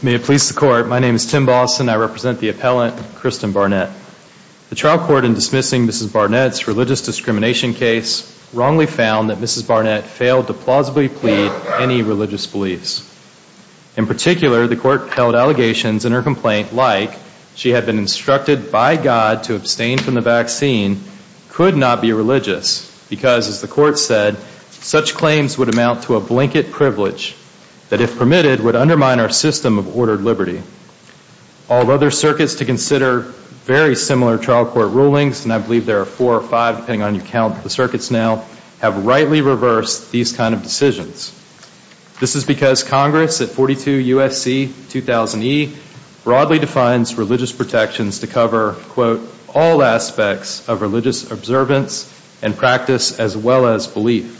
May it please the Court, my name is Tim Balson and I represent the appellant Kristen Barnett. The trial court in dismissing Mrs. Barnett's religious discrimination case wrongly found that Mrs. Barnett failed to plausibly plead any religious beliefs. In particular, the court held allegations in her complaint like she had been instructed by God to abstain from the vaccine could not be religious because, as the court said, such claims would amount to a blanket privilege that, if permitted, would undermine our system of ordered liberty. All other circuits to consider very similar trial court rulings, and I believe there are four or five depending on how you count the circuits now, have rightly reversed these kind of decisions. This is because Congress at 42 U.S.C. 2000e broadly defines religious protections to cover, quote, all aspects of religious observance and practice as well as belief.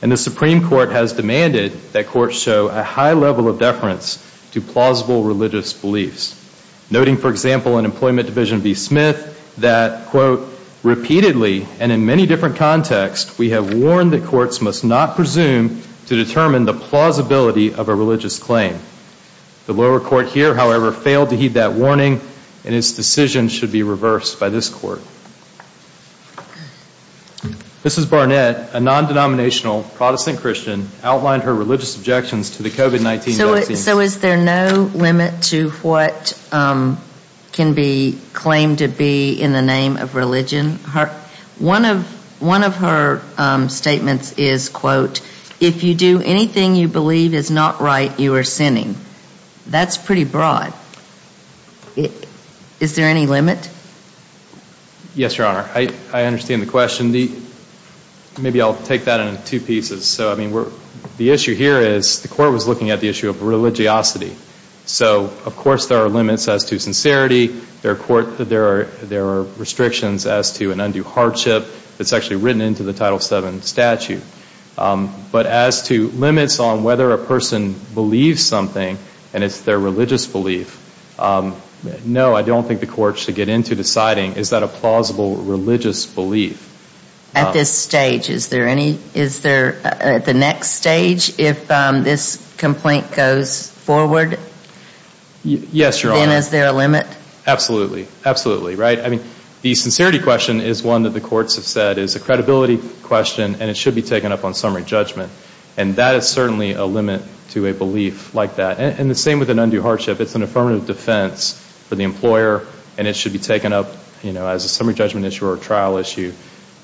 And the Supreme Court has demanded that courts show a high level of deference to plausible religious beliefs. Noting, for example, in Employment Division v. Smith that, quote, repeatedly and in many different contexts we have warned that courts must not presume to determine the plausibility of a religious claim. The lower court here, however, failed to heed that warning and its decision should be reversed by this court. This is Barnett, a non-denominational Protestant Christian, outlined her religious objections to the COVID-19 vaccine. So is there no limit to what can be claimed to be in the name of religion? One of her statements is, quote, if you do anything you believe is not right, you are sinning. That's pretty broad. Is there any limit? Yes, Your Honor. I understand the question. Maybe I'll take that in two pieces. So I mean, the issue here is the court was looking at the issue of religiosity. So of course there are limits as to sincerity. There are restrictions as to an undue hardship. It's actually written into the Title VII statute. But as to limits on whether a person believes something and it's their religious belief, no, I don't think the court should get into deciding is that a plausible religious belief. At this stage, is there any, is there, at the next stage, if this complaint goes forward, then is there a limit? Yes, Your Honor. Absolutely. Absolutely. Right? I mean, the sincerity question is one that the courts have said is a credibility question and it should be taken up on summary judgment. And that is certainly a limit to a belief like that. And the same with an undue hardship. It's an affirmative defense for the employer and it should be taken up, you know, as a summary judgment issue or a trial issue.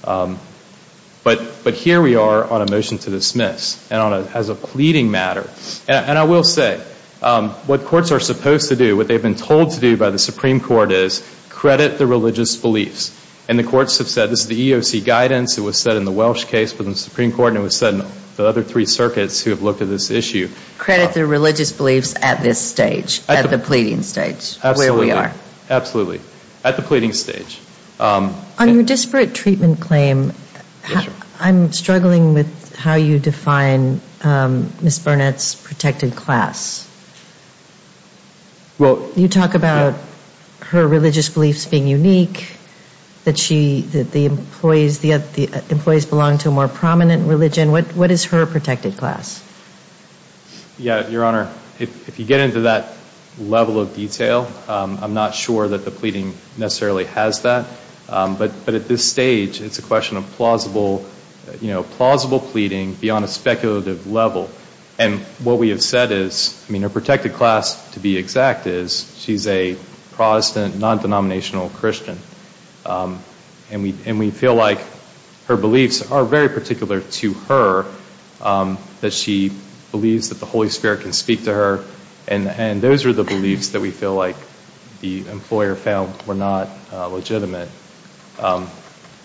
But here we are on a motion to dismiss and on a, as a pleading matter. And I will say what courts are supposed to do, what they've been told to do by the Supreme Court is credit the religious beliefs. And the courts have said this is the EOC guidance. It was said in the Welsh case for the Supreme Court and it was said in the other three circuits who have looked at this issue. Credit the religious beliefs at this stage, at the pleading stage, where we are. Absolutely. At the pleading stage. On your disparate treatment claim, I'm struggling with how you define Ms. Burnett's protected class. You talk about her religious beliefs being unique, that she, that the employees, the employees belong to a more prominent religion. What is her protected class? Yeah, Your Honor, if you get into that level of detail, I'm not sure that the pleading necessarily has that. But at this stage, it's a question of plausible, you know, plausible pleading beyond a speculative level. And what we have said is, I mean, her protected class to be exact is she's a Protestant non-denominational Christian. And we, and we feel like, you know, her beliefs are very particular to her, that she believes that the Holy Spirit can speak to her. And those are the beliefs that we feel like the employer found were not legitimate.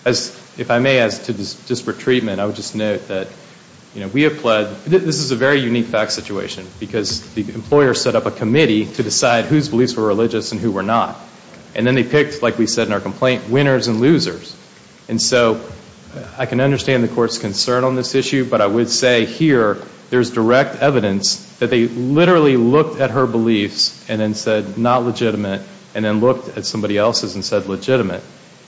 As, if I may, as to disparate treatment, I would just note that, you know, we have pled, this is a very unique fact situation because the employer set up a committee to decide whose beliefs were religious and who were not. And then they picked, like we said in our complaint, winners and losers. And so I can understand the Court's concern on this issue, but I would say here there's direct evidence that they literally looked at her beliefs and then said not legitimate, and then looked at somebody else's and said legitimate.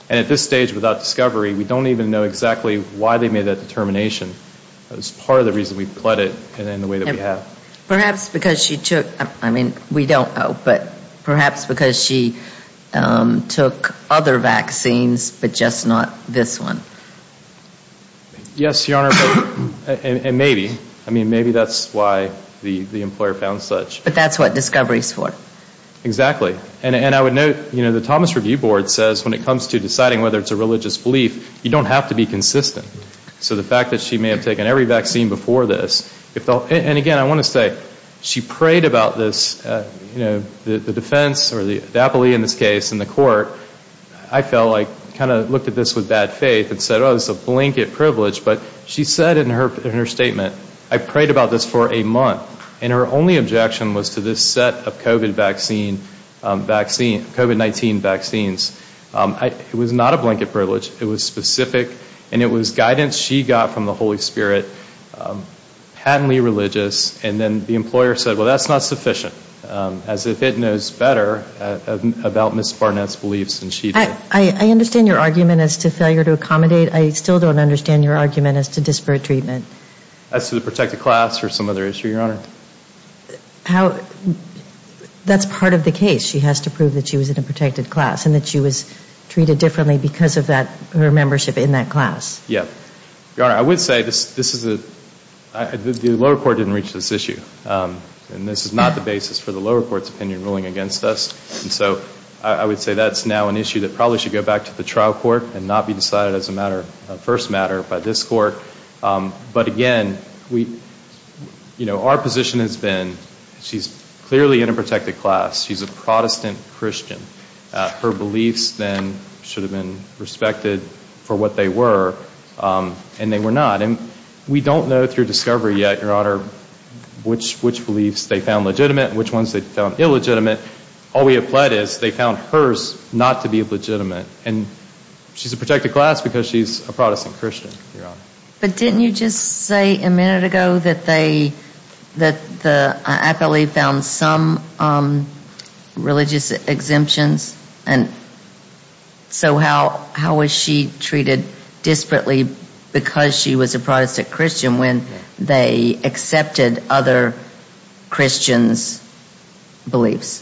And at this stage, without discovery, we don't even know exactly why they made that determination. That was part of the reason we pled it in the way that we have. Perhaps because she took, I mean, we don't know, but perhaps because she took other vaccines, but just not this one. Yes, Your Honor, and maybe. I mean, maybe that's why the employer found such. But that's what discovery's for. Exactly. And I would note, you know, the Thomas Review Board says when it comes to deciding whether it's a religious belief, you don't have to be consistent. So the fact that she may have taken every vaccine before this, and again, I want to say, she prayed about this, you know, the defense or the apoly in this case in the Court, I felt like kind of looked at this with bad faith and said, oh, this is a blanket privilege. But she said in her statement, I prayed about this for a month, and her only objection was to this set of COVID vaccine, COVID-19 vaccines. It was not a blanket privilege. It was specific, and it was guidance she got from the Holy Spirit, patently religious, and then the employer said, well, that's not sufficient, as if it knows better about Ms. Barnett's beliefs than she did. I understand your argument as to failure to accommodate. I still don't understand your argument as to disparate treatment. As to the protected class or some other issue, Your Honor. That's part of the case. She has to prove that she was in a protected class and that she was treated differently because of her membership in that class. Yeah. Your Honor, I would say this is a, the lower court didn't reach this issue, and this is not the basis for the lower court's opinion ruling against us, and so I would say that's now an issue that probably should go back to the trial court and not be decided as a matter, a first matter by this Court. But again, we, you know, our position has been she's clearly in a protected class. She's a Protestant Christian. Her beliefs then should have been respected for what they were, and they were not, and we don't know through discovery yet, Your Honor, which beliefs they found legitimate and which ones they found illegitimate. All we have pled is they found hers not to be legitimate, and she's a protected class because she's a Protestant Christian, Your Honor. But didn't you just say a minute ago that they, that the, I believe found some religious exemptions, and so how was she treated disparately because she was a Protestant Christian when they accepted other Christians' beliefs?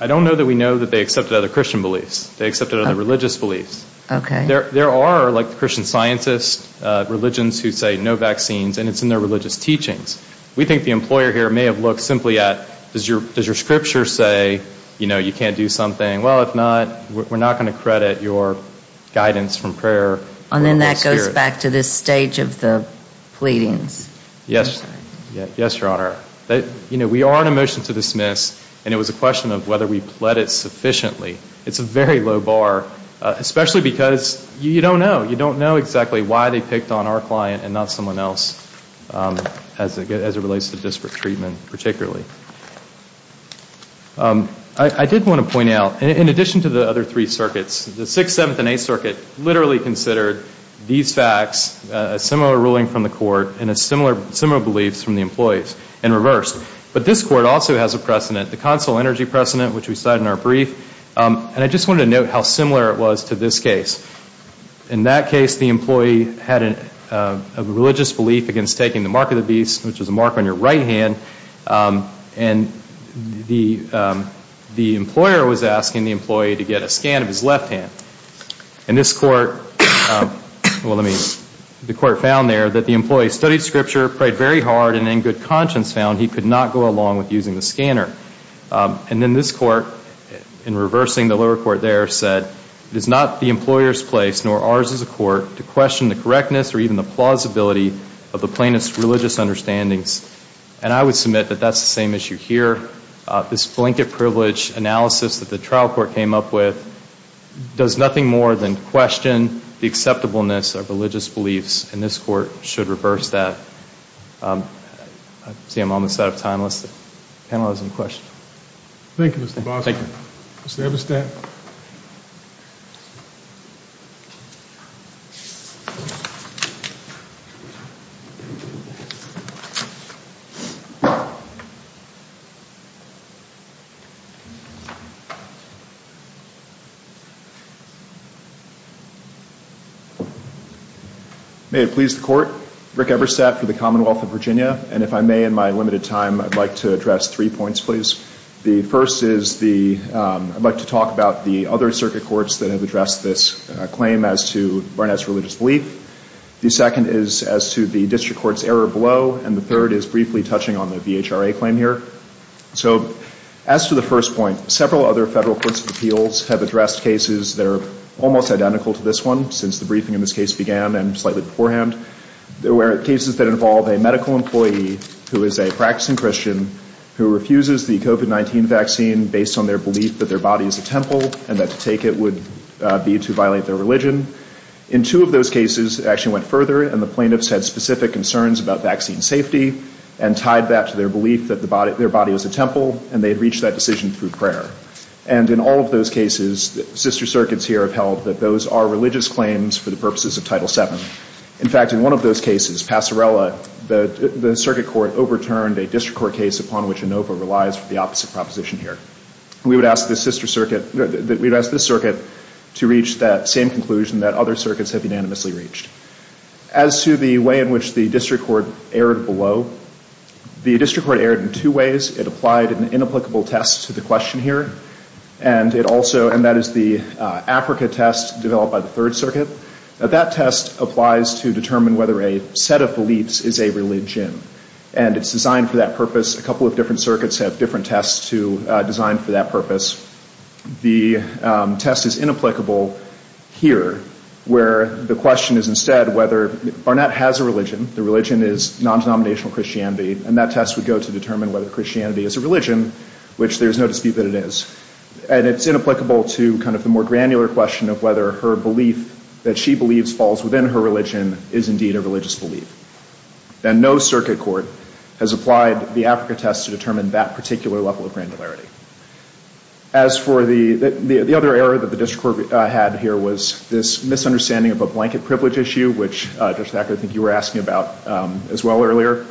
I don't know that we know that they accepted other Christian beliefs. They accepted other religious beliefs. Okay. There are, like the Christian scientists, religions who say no vaccines, and it's in their religious teachings. We think the employer here may have looked simply at, does your scripture say, you know, you can't do something? Well, if not, we're not going to credit your guidance from prayer. And then that goes back to this stage of the pleadings. Yes. Yes, Your Honor. You know, we are on a motion to dismiss, and it was a question of whether we pled it sufficiently. It's a very low bar, especially because you don't know. You don't know exactly why they picked on our client and not someone else as it relates to disparate treatment, particularly. I did want to point out, in addition to the other three circuits, the Sixth, Seventh, and Eighth Circuit literally considered these facts, a similar ruling from the court, and similar beliefs from the employees, in reverse. But this court also has a precedent, the consular energy precedent, which we cite in our brief. And I just wanted to note how similar it was to this case. In that case, the employee had a religious belief against taking the mark of the beast, which is a mark on your right hand, and the employer was asking the employee to get a scan of his left hand. And this court, well, let me, the court found there that the employee studied scripture, prayed very hard, and in good conscience found he could not go along with using the scanner. And then this court, in reversing the lower court there, said, it is not the employer's place, nor ours as a court, to question the correctness or even the plausibility of the plaintiff's religious understandings. And I would submit that that's the same issue here. This blanket privilege analysis that the trial court came up with does nothing more than question the acceptableness of religious beliefs, and this court should reverse that. I see I'm almost out of time. Does the panel have any questions? Thank you, Mr. Bossert. Mr. Eberstadt? May it please the court, Rick Eberstadt for the Commonwealth of Virginia, and if I may in my limited time, I'd like to address three points, please. The first is the, I'd like to talk about the other circuit courts that have addressed this claim as to Barnett's religious belief. The second is as to the district court's error below, and the third is briefly touching on the VHRA claim here. So as to the first point, several other federal courts of appeals have addressed cases that are almost identical to this one, since the briefing in this case began and slightly beforehand. There were cases that involve a medical employee who is a practicing Christian who refuses the COVID-19 vaccine based on their belief that their body is a temple and that to take it would be to violate their religion. In two of those cases, it actually went further and the plaintiffs had specific concerns about vaccine safety and tied that to their belief that their body is a temple, and they had reached that decision through prayer. And in all of those cases, sister circuits here have held that those are religious claims for the purposes of Title VII. In fact, in one of those cases, Passarella, the circuit court overturned a district court case upon which ANOVA relies for the opposite proposition here. We would ask this circuit to reach that same conclusion that other circuits have unanimously reached. As to the way in which the district court erred below, the district court erred in two ways. It applied an inapplicable test to the question here, and that is the Africa test developed by the Third Circuit. That test applies to determine whether a set of beliefs is a religion, and it's designed for that purpose. A couple of different circuits have different tests designed for that purpose. The test is inapplicable here, where the question is instead whether Barnett has a religion, the religion is non-denominational Christianity, and that test would go to determine whether Christianity is a religion, which there's no dispute that it is. And it's inapplicable to the more granular question of whether her belief that she believes falls within her religion is indeed a religious belief. And no circuit court has applied the Africa test to determine that particular level of granularity. As for the other error that the district court had here was this misunderstanding of a blanket privilege issue, which, Judge Thacker, I think you were asking about as well earlier.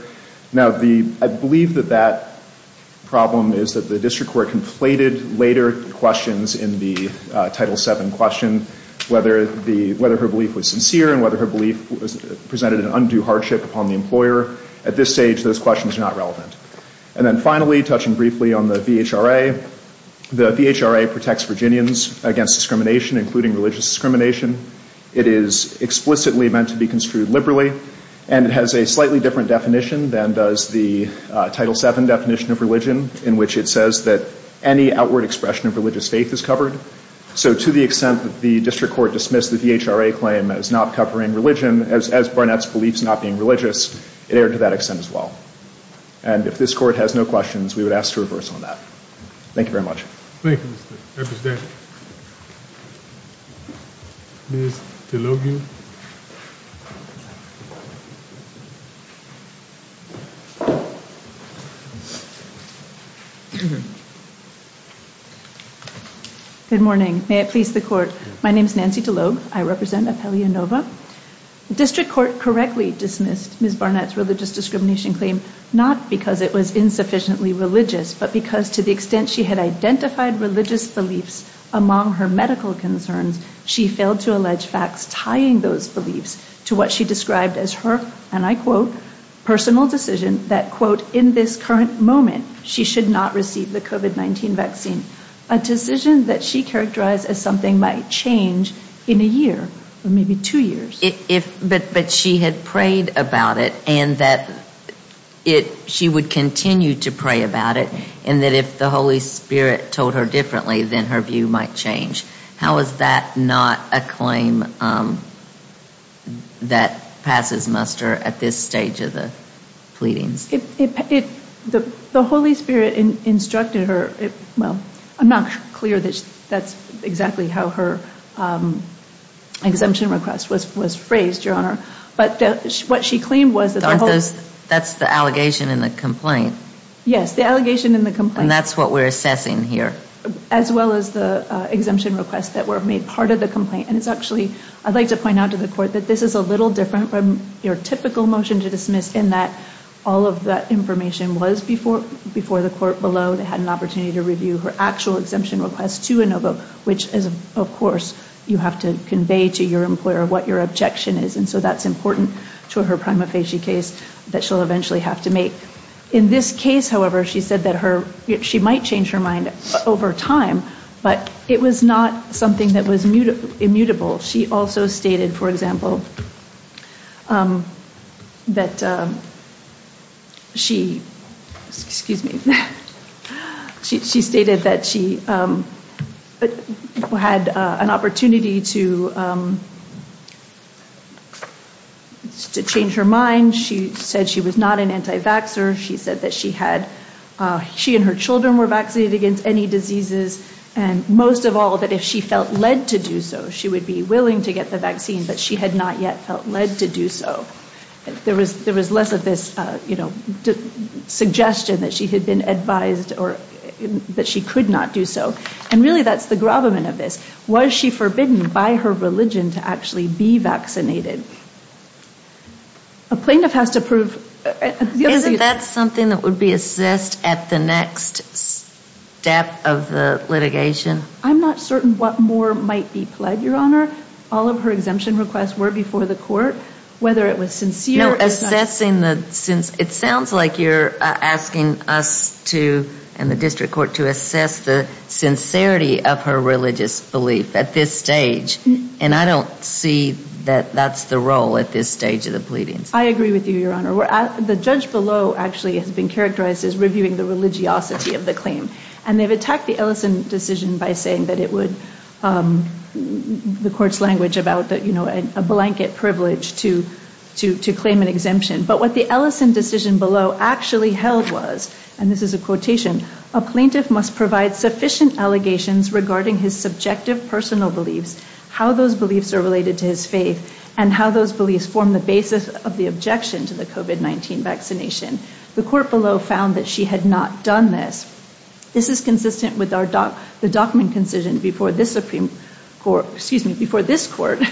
Now, I believe that that problem is that the district court conflated later questions in the Title 7 question, whether her belief was sincere and whether her belief presented an undue hardship upon the employer. At this stage, those questions are not relevant. And then finally, touching briefly on the VHRA, the VHRA protects Virginians against discrimination, including religious discrimination. It is explicitly meant to be construed liberally, and it has a slightly different definition than does the Title 7 definition of religion, in which it says that any outward expression of religious faith is covered. So to the extent that the district court dismissed the VHRA claim as not covering religion, as Barnett's belief is not being religious, it erred to that extent as well. And if this court has no questions, we would ask to reverse on that. Thank you very much. Good morning. May it please the Court. My name is Nancy DeLogue. I represent Apellia Nova. The district court correctly dismissed Ms. Barnett's religious discrimination claim not because it was insufficiently religious, but because to the extent she had identified religious beliefs among her medical concerns, she failed to allege facts tying those beliefs to what she described as her, and I quote, personal decision that, quote, in this current moment, she should not receive the COVID-19 vaccine, a decision that she characterized as something might change in a year, or maybe two years. But she had prayed about it, and that she would continue to pray about it, and that if the Holy Spirit told her differently, then her view might change. How is that not a claim that passes muster at this stage of the pleadings? The Holy Spirit instructed her. Well, I'm not clear that that's exactly how her exemption request was phrased, Your Honor. But what she claimed was that the Holy Spirit... That's the allegation in the complaint. Yes, the allegation in the complaint. And that's what we're assessing here. As well as the exemption requests that were made part of the complaint, and it's actually... I'd like to point out to the court that this is a little different from your typical motion to dismiss in that all of that information was before the court below. They had an opportunity to review her actual exemption request to Inova, which is, of course, you have to convey to your employer what your objection is, and so that's important to her prima facie case that she'll eventually have to make. In this case, however, she said that she might change her mind over time, but it was not something that was immutable. She also stated, for example, that she... Excuse me. She stated that she had an opportunity to change her mind. She said she was not an anti-vaxxer, she said that she and her children were vaccinated against any diseases, and most of all, that if she felt led to do so, she would be willing to get the vaccine, but she had not yet felt led to do so. There was less of this suggestion that she had been advised or that she could not do so. And really, that's the gravamen of this. Was she forbidden by her religion to actually be vaccinated? A plaintiff has to prove... Isn't that something that would be assessed at the next step of the litigation? I'm not certain what more might be pled, Your Honor. All of her exemption requests were before the court, whether it was sincere or not. It sounds like you're asking us and the district court to assess the sincerity of her religious belief at this stage, and I don't see that that's the role at this stage of the pleadings. I agree with you, Your Honor. The judge below actually has been characterized as reviewing the religiosity of the claim, and they've attacked the Ellison decision by saying that it would, the court's language about a blanket privilege to claim an exemption. But what the Ellison decision below actually held was, and this is a quotation, a plaintiff must provide sufficient allegations regarding his subjective personal beliefs, how those beliefs are related to his faith, and how those beliefs form the basis of the objection to the COVID-19 vaccination. The court below found that she had not done this. This is consistent with the Dockman concision before this Supreme Court, excuse me, before this court,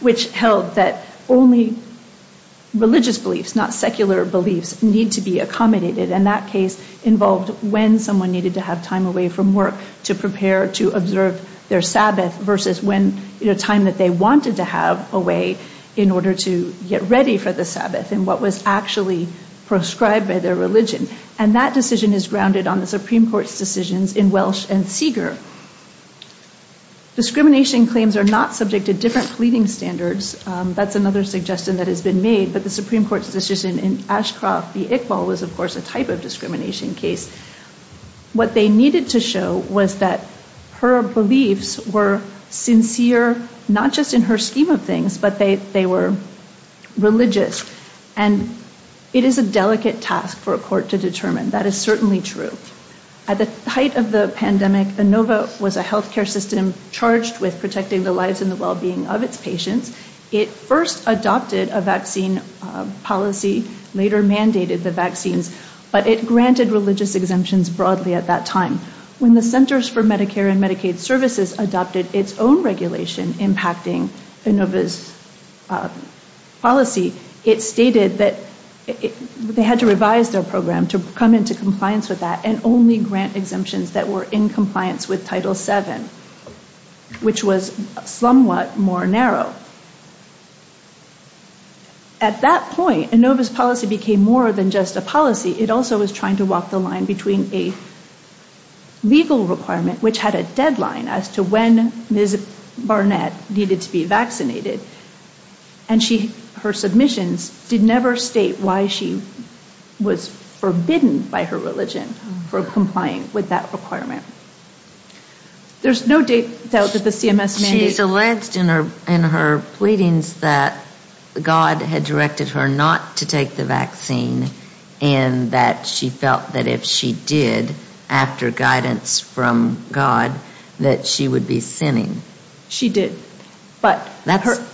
which held that only religious beliefs, not secular beliefs, need to be accommodated. And that case involved when someone needed to have time away from work to prepare to observe their Sabbath versus when, you know, time that they wanted to have away in order to get ready for the Sabbath and what was actually prescribed by their religion. And that decision is grounded on the Supreme Court's decisions in Welsh and Seager. Discrimination claims are not subject to different pleading standards. That's another suggestion that has been made, but the Supreme Court's decision in Ashcroft v. Iqbal was, of course, a type of discrimination case. What they needed to show was that her beliefs were sincere, not just in her scheme of things, but they were religious. And it is a delicate task for a court to determine. That is certainly true. At the height of the pandemic, Inova was a healthcare system charged with protecting the lives and the well-being of its patients. It first adopted a vaccine policy, later mandated the vaccines, but it granted religious exemptions broadly at that time. When the Centers for Medicare and Medicaid Services adopted its own regulation impacting Inova's policy, it stated that they had to revise their program to come into compliance with that and only grant exemptions that were in compliance with Title VII, which was somewhat more narrow. At that point, Inova's policy became more than just a policy. It also was trying to walk the line between a legal requirement, which had a deadline as to when Ms. Barnett needed to be vaccinated, and her submissions did never state why she was forbidden by her religion for complying with that requirement. There's no doubt that the CMS mandate... She's alleged in her pleadings that God had directed her not to take the vaccine and that she felt that if she did, after guidance from God, that she would be sinning. She did, but...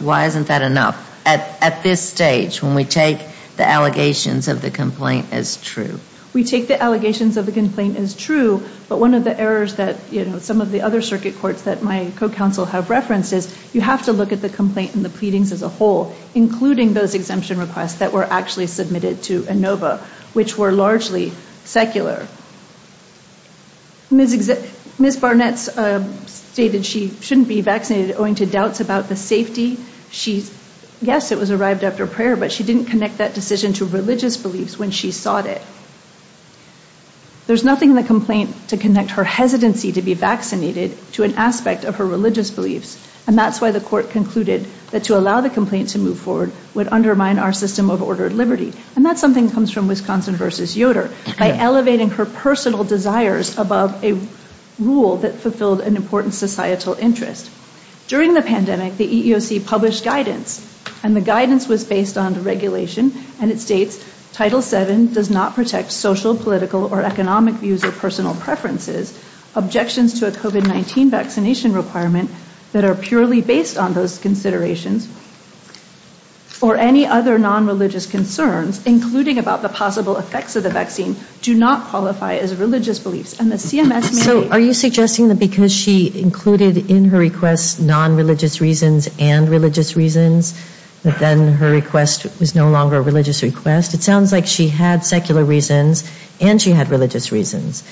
Why isn't that enough at this stage, when we take the allegations of the complaint as true? We take the allegations of the complaint as true, but one of the errors that some of the other circuit courts that my co-counsel have referenced is you have to look at the complaint and the pleadings as a whole, including those exemption requests that were actually submitted to Inova, which were largely secular. Ms. Barnett stated she shouldn't be vaccinated, owing to doubts about the safety. Yes, it was arrived after prayer, but she didn't connect that decision to religious beliefs when she sought it. There's nothing in the complaint to connect her hesitancy to be vaccinated to an aspect of her religious beliefs, and that's why the court concluded that to allow the complaint to move forward would undermine our system of ordered liberty, and that's something that comes from Wisconsin v. Yoder, by elevating her personal desires above a rule that fulfilled an important societal interest. During the pandemic, the EEOC published guidance, and the guidance was based on the regulation, and it states, Title VII does not protect social, political, or economic views of personal preferences, objections to a COVID-19 vaccination requirement that are purely based on those considerations, or any other non-religious concerns, including about the possible effects of the vaccine, do not qualify as religious beliefs, and the CMS may... So are you suggesting that because she included in her request non-religious reasons and religious reasons, that then her request was no longer a religious request? It sounds like she had secular reasons, and she had religious reasons,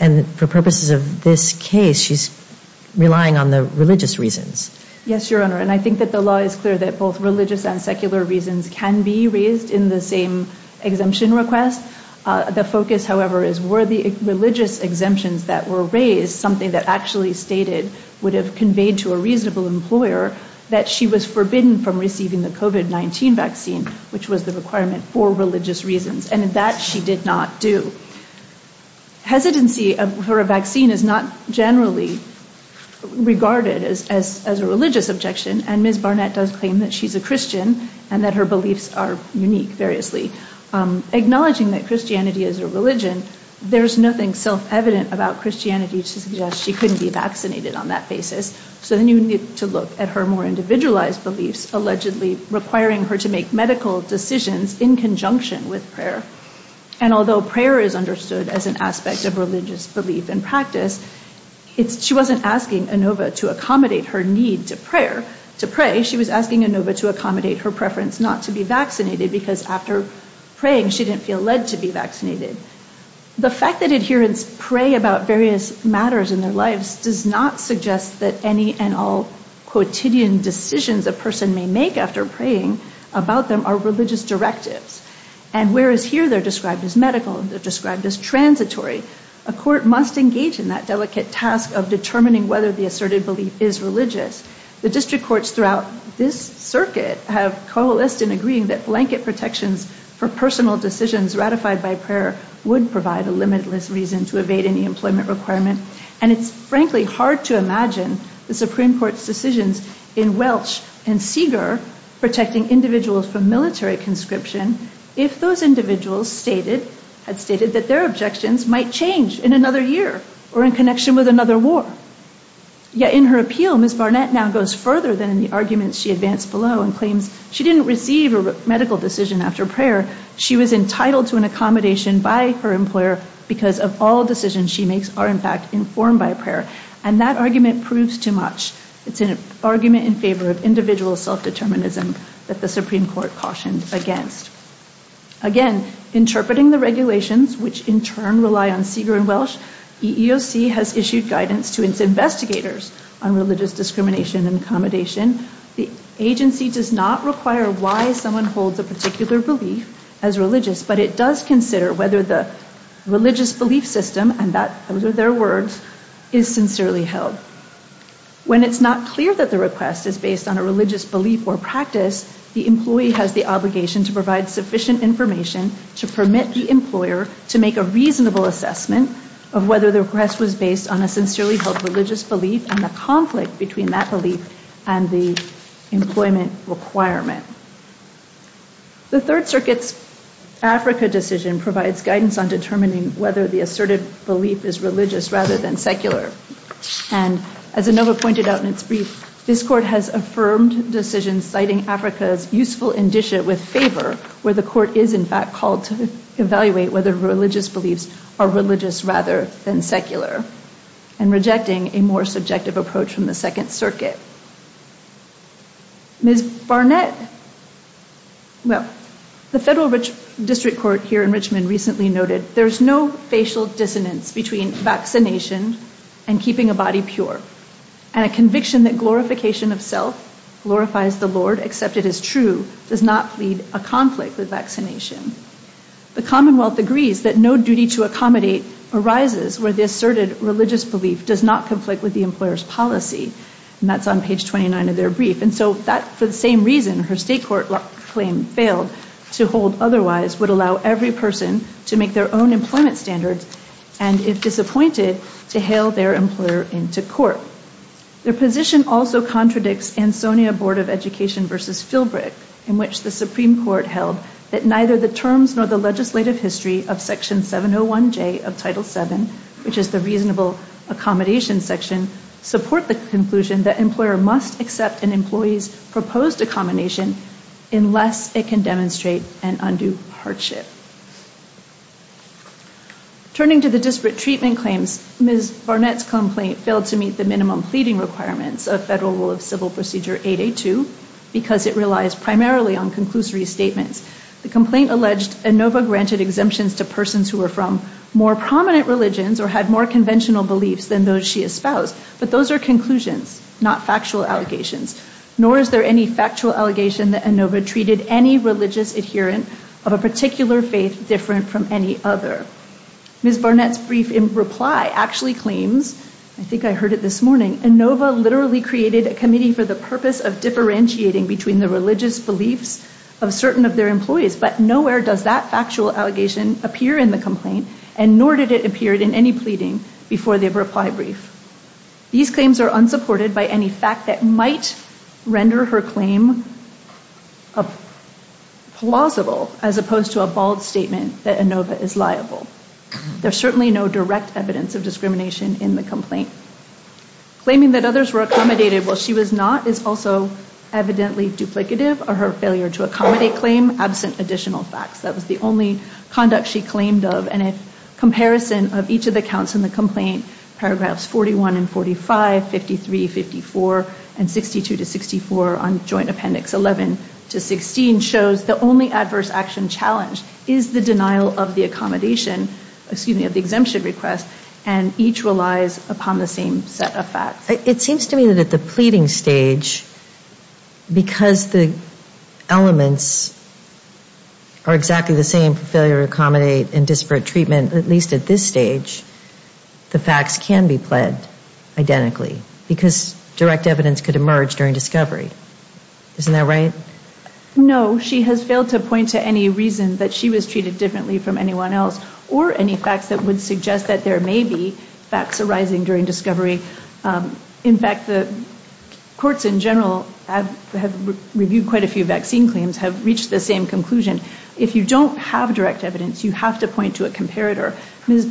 and for purposes of this case, she's relying on the religious reasons. Yes, Your Honor, and I think that the law is clear that both religious and secular reasons can be raised in the same exemption request. The focus, however, is were the religious exemptions that were raised something that actually stated would have conveyed to a reasonable employer that she was forbidden from receiving the COVID-19 vaccine, which was the requirement for religious reasons, and that she did not do. Hesitancy for a vaccine is not generally regarded as a religious objection, and Ms. Barnett does claim that she's a Christian, and that her beliefs are unique, variously. Acknowledging that Christianity is a religion, there's nothing self-evident about Christianity to suggest she couldn't be vaccinated on that basis. So then you need to look at her more individualized beliefs, allegedly requiring her to make medical decisions in conjunction with prayer. And although prayer is understood as an aspect of religious belief and practice, she wasn't asking Inova to accommodate her need to pray. She was asking Inova to accommodate her preference not to be vaccinated, because after praying, she didn't feel led to be vaccinated. The fact that adherents pray about various matters in their lives does not suggest that any and all quotidian decisions a person may make after praying about them are religious directives. And whereas here they're described as medical, they're described as transitory, a court must engage in that delicate task of determining whether the asserted belief is religious. The district courts throughout this circuit have coalesced in agreeing that blanket protections for personal decisions ratified by prayer would provide a limitless reason to evade any employment requirement. And it's frankly hard to imagine the Supreme Court's decisions in Welch and Seeger protecting individuals from military conscription if those individuals had stated that their objections might change in another year or in connection with another war. Yet in her appeal, Ms. Barnett now goes further than in the arguments she advanced below and claims she didn't receive a medical decision after prayer. She was entitled to an accommodation by her employer because of all decisions she makes are in fact informed by prayer. And that argument proves too much. It's an argument in favor of individual self-determinism that the Supreme Court cautioned against. Again, interpreting the regulations which in turn rely on Seeger and Welch, EEOC has issued guidance to its investigators on religious discrimination and accommodation. The agency does not require why someone holds a particular belief as religious, but it does whether the religious belief system, and those are their words, is sincerely held. When it's not clear that the request is based on a religious belief or practice, the employee has the obligation to provide sufficient information to permit the employer to make a reasonable assessment of whether the request was based on a sincerely held religious belief and the conflict between that belief and the employment requirement. The Third Circuit's Africa decision provides guidance on determining whether the asserted belief is religious rather than secular. And as Inova pointed out in its brief, this court has affirmed decisions citing Africa's useful indicia with favor where the court is in fact called to evaluate whether religious beliefs are religious rather than secular and rejecting a more subjective approach from the Second Circuit. Ms. Barnett, well, the Federal District Court here in Richmond recently noted, there's no facial dissonance between vaccination and keeping a body pure, and a conviction that glorification of self, glorifies the Lord, accepted as true, does not lead a conflict with vaccination. The Commonwealth agrees that no duty to accommodate arises where the asserted religious belief does not conflict with the employer's policy, and that's on page 29 of their brief. And so that, for the same reason her state court claim failed to hold otherwise, would allow every person to make their own employment standards, and if disappointed, to hail their employer into court. Their position also contradicts Ansonia Board of Education versus Filbreck, in which the Supreme Court held that neither the legislative history of Section 701J of Title VII, which is the reasonable accommodation section, support the conclusion that employer must accept an employee's proposed accommodation, unless it can demonstrate an undue hardship. Turning to the disparate treatment claims, Ms. Barnett's complaint failed to meet the minimum pleading requirements of Federal Rule of Civil Procedure 882, because it relies primarily on statements. The complaint alleged Inova granted exemptions to persons who were from more prominent religions or had more conventional beliefs than those she espoused, but those are conclusions, not factual allegations. Nor is there any factual allegation that Inova treated any religious adherent of a particular faith different from any other. Ms. Barnett's brief reply actually claims, I think I heard it this morning, Inova literally created a committee for the purpose of differentiating between the religious beliefs of certain of their employees, but nowhere does that factual allegation appear in the complaint, and nor did it appear in any pleading before the reply brief. These claims are unsupported by any fact that might render her claim plausible, as opposed to a bald statement that Inova is liable. There's certainly no direct evidence of discrimination in the complaint. Claiming that others were accommodated while she was not is also evidently duplicative of her failure to accommodate claim absent additional facts. That was the only conduct she claimed of, and a comparison of each of the counts in the complaint, paragraphs 41 and 45, 53, 54, and 62 to 64 on joint appendix 11 to 16, shows the only adverse action challenge is the denial of the accommodation, excuse me, of the exemption request, and each relies upon the same set of facts. It seems to me that at the pleading stage, because the elements are exactly the same for failure to accommodate and disparate treatment, at least at this stage, the facts can be pled identically, because direct evidence could emerge during discovery. Isn't that right? No, she has failed to point to any reason that she was treated differently from anyone else, or any facts that would suggest that there may be facts arising during discovery. In fact, the courts in general have reviewed quite a few vaccine claims, have reached the same conclusion. If you don't have direct evidence, you have to point to a comparator. Ms.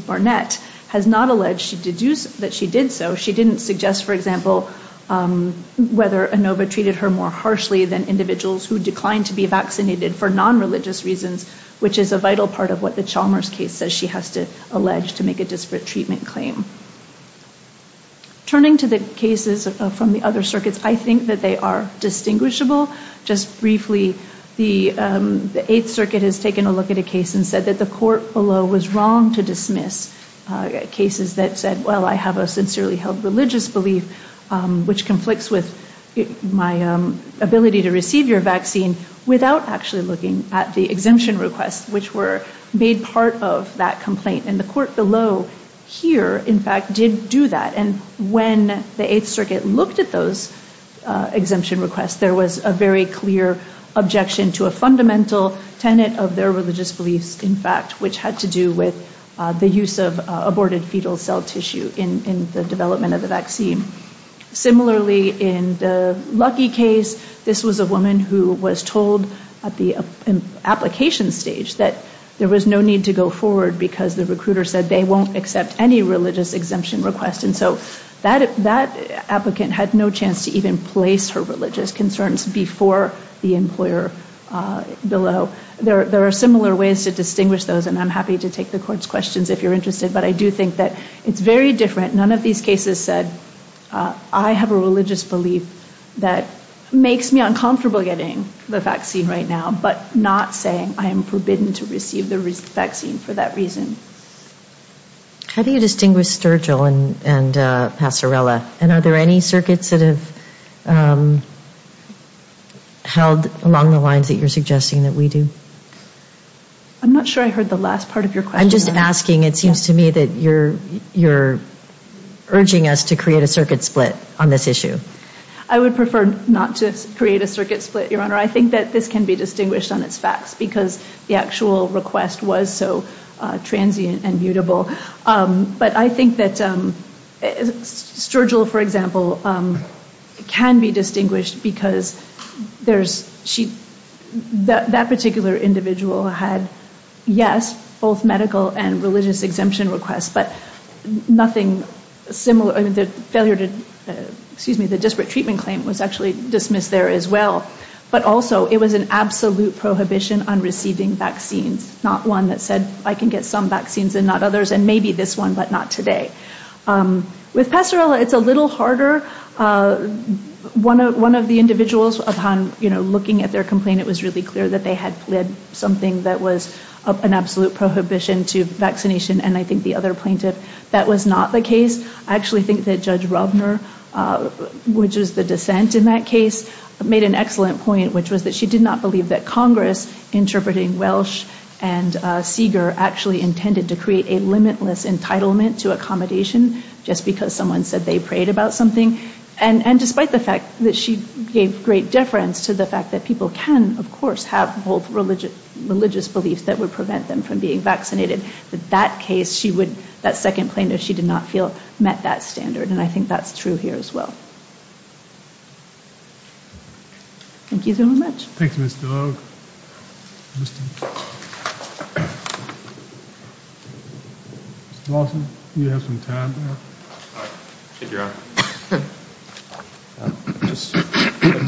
Barnett has not alleged that she did so. She didn't suggest, for example, whether Inova treated her more harshly than individuals who declined to be vaccinated for non-religious reasons, which is a vital part of what the Chalmers case says she has to allege to make a disparate treatment claim. Turning to the cases from the other circuits, I think that they are distinguishable. Just briefly, the Eighth Circuit has taken a look at a case and said that the court below was wrong to dismiss cases that said, well, I have a sincerely held religious belief, which conflicts with my ability to receive your vaccine, without actually looking at the exemption requests, which were made part of that complaint. The court below here, in fact, did do that. When the Eighth Circuit looked at those exemption requests, there was a very clear objection to a fundamental tenet of their religious beliefs, in fact, which had to do with the use of aborted fetal cell tissue in the development of the vaccine. Similarly, in the Lucky case, this was a woman who was told at the application stage that there was no need to go forward because the recruiter said they won't accept any religious exemption request. And so that applicant had no chance to even place her religious concerns before the employer below. There are similar ways to distinguish those, and I'm happy to take the court's questions if you're interested. But I do think that it's very different. None of these cases said, I have a religious belief that makes me uncomfortable getting the vaccine right now, but not saying I am forbidden to receive the vaccine for that reason. How do you distinguish Sturgill and Passerella? And are there any circuits that have held along the lines that you're suggesting that we do? I'm not sure I heard the last part of your question. I'm just asking. It seems to me that you're urging us to create a circuit split on this issue. I would prefer not to create a circuit split, Your Honor. I think that this can be distinguished on its facts because the actual request was so transient and mutable. But I think that Sturgill, for example, can be distinguished because that particular individual had, yes, both medical and religious exemption requests, but nothing similar. The failure to, excuse me, the disparate treatment claim was actually dismissed there as well. But also, it was an absolute prohibition on receiving vaccines, not one that said, I can get some vaccines and not others, and maybe this one, but not today. With Passerella, it's a little harder. One of the individuals, upon looking at their complaint, it was really clear that they had something that was an absolute prohibition to vaccination, and I think the other plaintiff, that was not the case. I actually think that Judge Rovner, which is the dissent in that case, made an excellent point, which was that she did not believe that Congress, interpreting Welsh and Seager, actually intended to create a limitless entitlement to accommodation just because someone said they prayed about something. And despite the fact that she gave great deference to the fact that people can, of course, have both religious beliefs that would prevent them from being vaccinated, that that case, she would, that second plaintiff, she did not feel met that standard, and I think that's true here as well. Thank you so much. Thank you, Mr. Oak. Mr. Lawson, you have some time. I'll just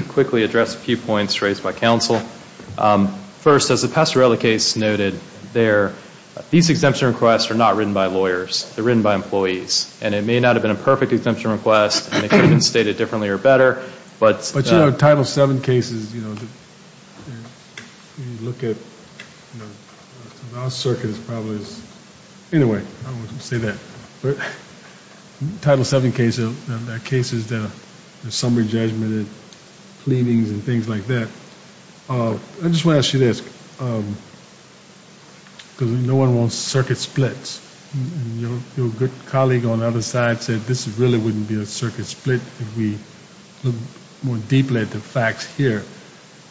quickly address a few points raised by counsel. First, as the Passerella case noted, these exemption requests are not written by lawyers. They're written by employees, and it may not have been a perfect exemption request, and they could have been stated differently or better, but... But, you know, Title VII cases, you know, when you look at, you know, circuit is probably, anyway, I don't want to say that, but Title VII case, that case is the summary judgment and cleanings and things like that. I just want to ask you this, because no one wants circuit splits, and your good colleague on the other side said this really wouldn't be a circuit split if we looked more deeply at the facts here.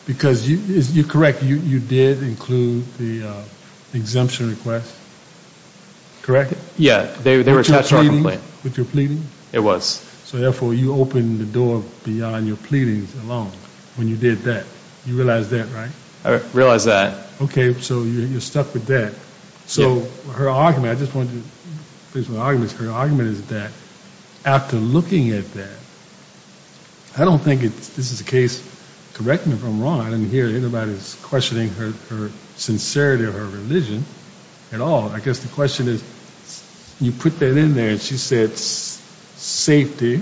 Because, you're correct, you did include the exemption request, correct? Yeah. With your pleading? It was. So, therefore, you opened the door beyond your pleadings alone when you did that. You realize that, right? I realize that. Okay, so you're stuck with that. So, her argument, I just wanted to finish my arguments, her argument is that after looking at that, I don't think this is a case, correct me if I'm wrong, I didn't hear anybody's questioning her sincerity or her religion at all. I guess the question is, you put that in there, and she said safety,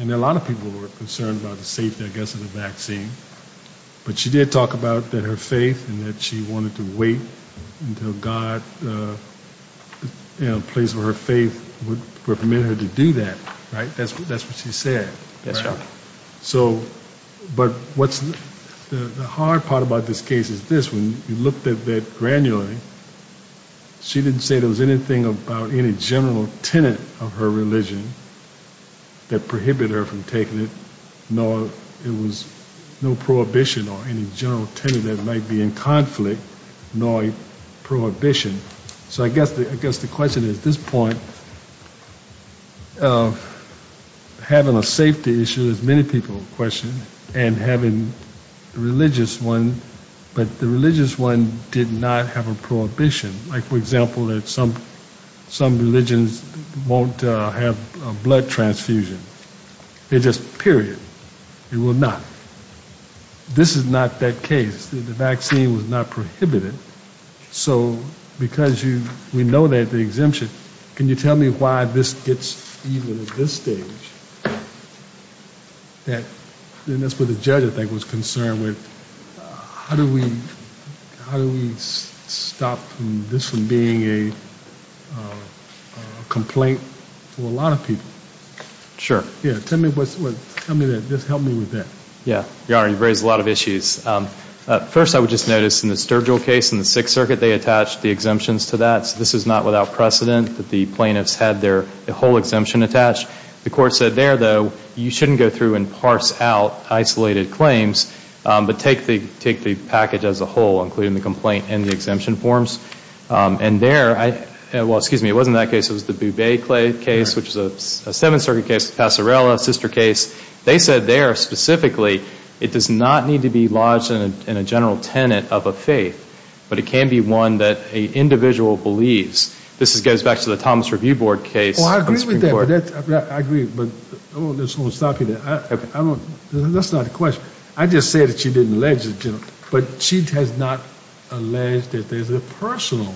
and a lot of people were concerned about the safety, I guess, of the vaccine, but she did talk about her faith and that she wanted to wait until God, you know, a place where her faith would permit her to do that, right? That's what she said. That's right. So, but what's, the hard part about this case is this, when you looked at that granularly, she didn't say there was anything about any general tenet of her religion that prohibited her from taking it, nor it was no prohibition or any general tenet that might be in conflict, nor a prohibition. So, I guess the question is, at this point, having a safety issue, as many people questioned, and having a religious one, but the religious one did not have a prohibition. Like, for example, that some religions won't have a blood transfusion. They're just, period. They will not. This is not that case. The vaccine was not prohibited. So, because you, we know that the exemption, can you tell me why this gets even at this stage? That, and that's what the judge, I think, was concerned with. How do we, how do we stop this from being a complaint for a lot of people? Sure. Yeah. Tell me what, tell me that, just help me with that. Yeah. Your Honor, you've raised a lot of issues. First, I would just notice, in the Sturgill case, in the Sixth Circuit, they attached the exemptions to that. So, this is not without precedent that the plaintiffs had their whole exemption attached. The court said there, though, you shouldn't go through and parse out isolated claims, but take the, take the package as a whole, including the complaint and the exemption forms. And there, I, well, excuse me, it wasn't that case. It was the Bouvet case, which is a Seventh Circuit case, Passarella, sister case. They said there, specifically, it does not need to be lodged in a general tenet of a faith, but it can be one that an individual believes. This goes back to the Thomas Review Board case. Oh, I agree with that. I agree, but I just want to stop you there. That's not the I just said that she didn't allege it, but she has not alleged that there's a personal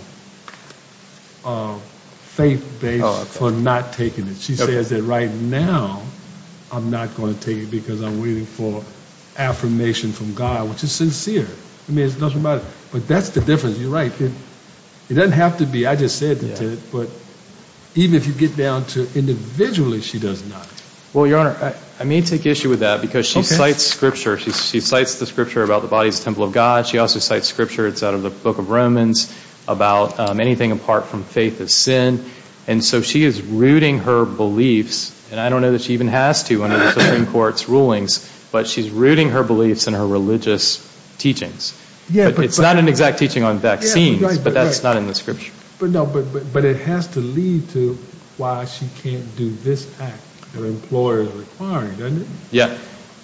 faith base for not taking it. She says that right now, I'm not going to take it because I'm waiting for affirmation from God, which is sincere. I mean, it doesn't matter. But that's the difference. You're right. It doesn't have to be. I just said it, but even if you get down to individually, she does not. Well, Your Honor, I may take issue with that because she cites scripture. She cites the scripture about the body's temple of God. She also cites scripture. It's out of the book of Romans about anything apart from faith is sin. And so she is rooting her beliefs. And I don't know that she even has to under the Supreme Court's rulings, but she's rooting her beliefs in her religious teachings. Yeah, but it's not an exact teaching on vaccines, but that's not in the scripture. But it has to lead to why she can't do this act that an employer is requiring, doesn't it? Yeah.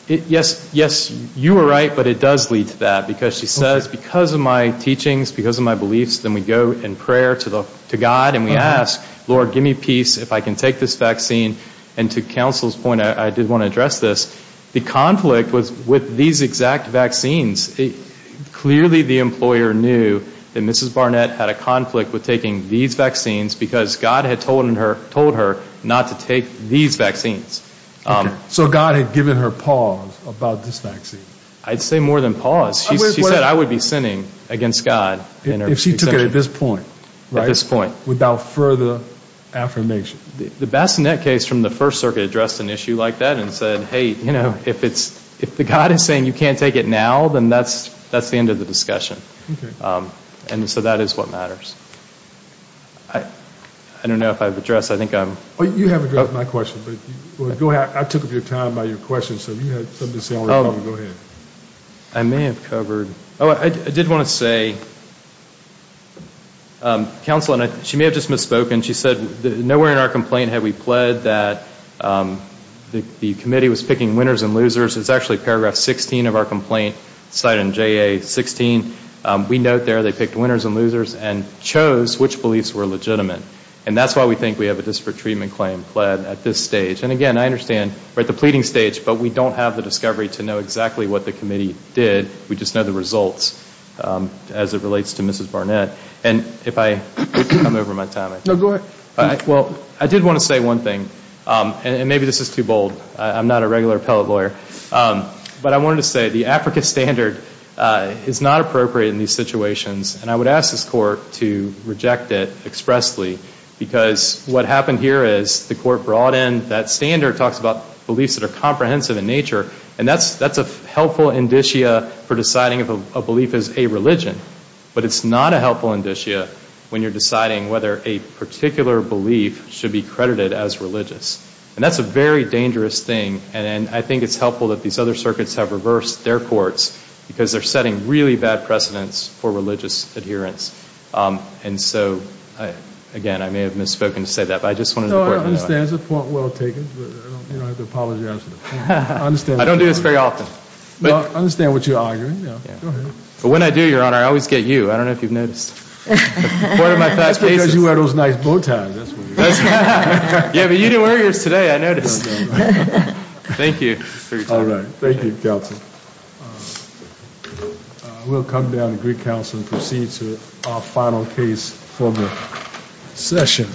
Yes, you are right, but it does lead to that because she says, because of my teachings, because of my beliefs, then we go in prayer to God and we ask, Lord, give me peace if I can take this vaccine. And to counsel's point, I did want to address this. The conflict was with these exact vaccines. Clearly, the employer knew that Mrs. Barnett had a conflict with taking these vaccines because God had told her not to take these vaccines. So God had given her pause about this vaccine? I'd say more than pause. She said, I would be sinning against God. If she took it at this point, without further affirmation. The Bassinet case from the First Amendment. If she's saying you can't take it now, then that's the end of the discussion. And so that is what matters. I don't know if I've addressed, I think I'm. You have addressed my question, but I took up your time by your question, so if you had something to say, go ahead. I may have covered, oh, I did want to say, counsel, and she may have just misspoken, she said nowhere in our complaint had we pled that the committee was picking winners and losers. It's actually paragraph 16 of our complaint, cited in JA 16. We note there they picked winners and losers and chose which beliefs were legitimate. And that's why we think we have a disparate treatment claim pled at this stage. And again, I understand we're at the pleading stage, but we don't have the discovery to know exactly what the committee did. We just know the results as it relates to Mrs. Barnett. And if I could come over my time. No, go ahead. Well, I did want to say one thing. And maybe this is too bold. I'm not a regular appellate lawyer. But I wanted to say the AFRICA standard is not appropriate in these situations. And I would ask this court to reject it expressly. Because what happened here is the court brought in that standard, talks about beliefs that are comprehensive in nature, and that's a helpful indicia for deciding if a belief is a religion. But it's not a helpful indicia when you're deciding whether a particular belief should be credited as religious. And that's a very dangerous thing. And I think it's helpful that these other circuits have reversed their courts. Because they're setting really bad precedents for religious adherence. And so, again, I may have misspoken to say that. But I just wanted the court to know. No, I understand. It's a point well taken. But I don't have to apologize for the point. I understand. I don't do this very often. Well, I understand what you're arguing. Go ahead. But when I do, Your Honor, I always get you. I don't know if you've noticed. That's because you wear those nice bow ties. Yeah, but you didn't wear yours today, I noticed. Thank you. All right. Thank you, counsel. We'll come down to Greek Council and proceed to our final case for the session.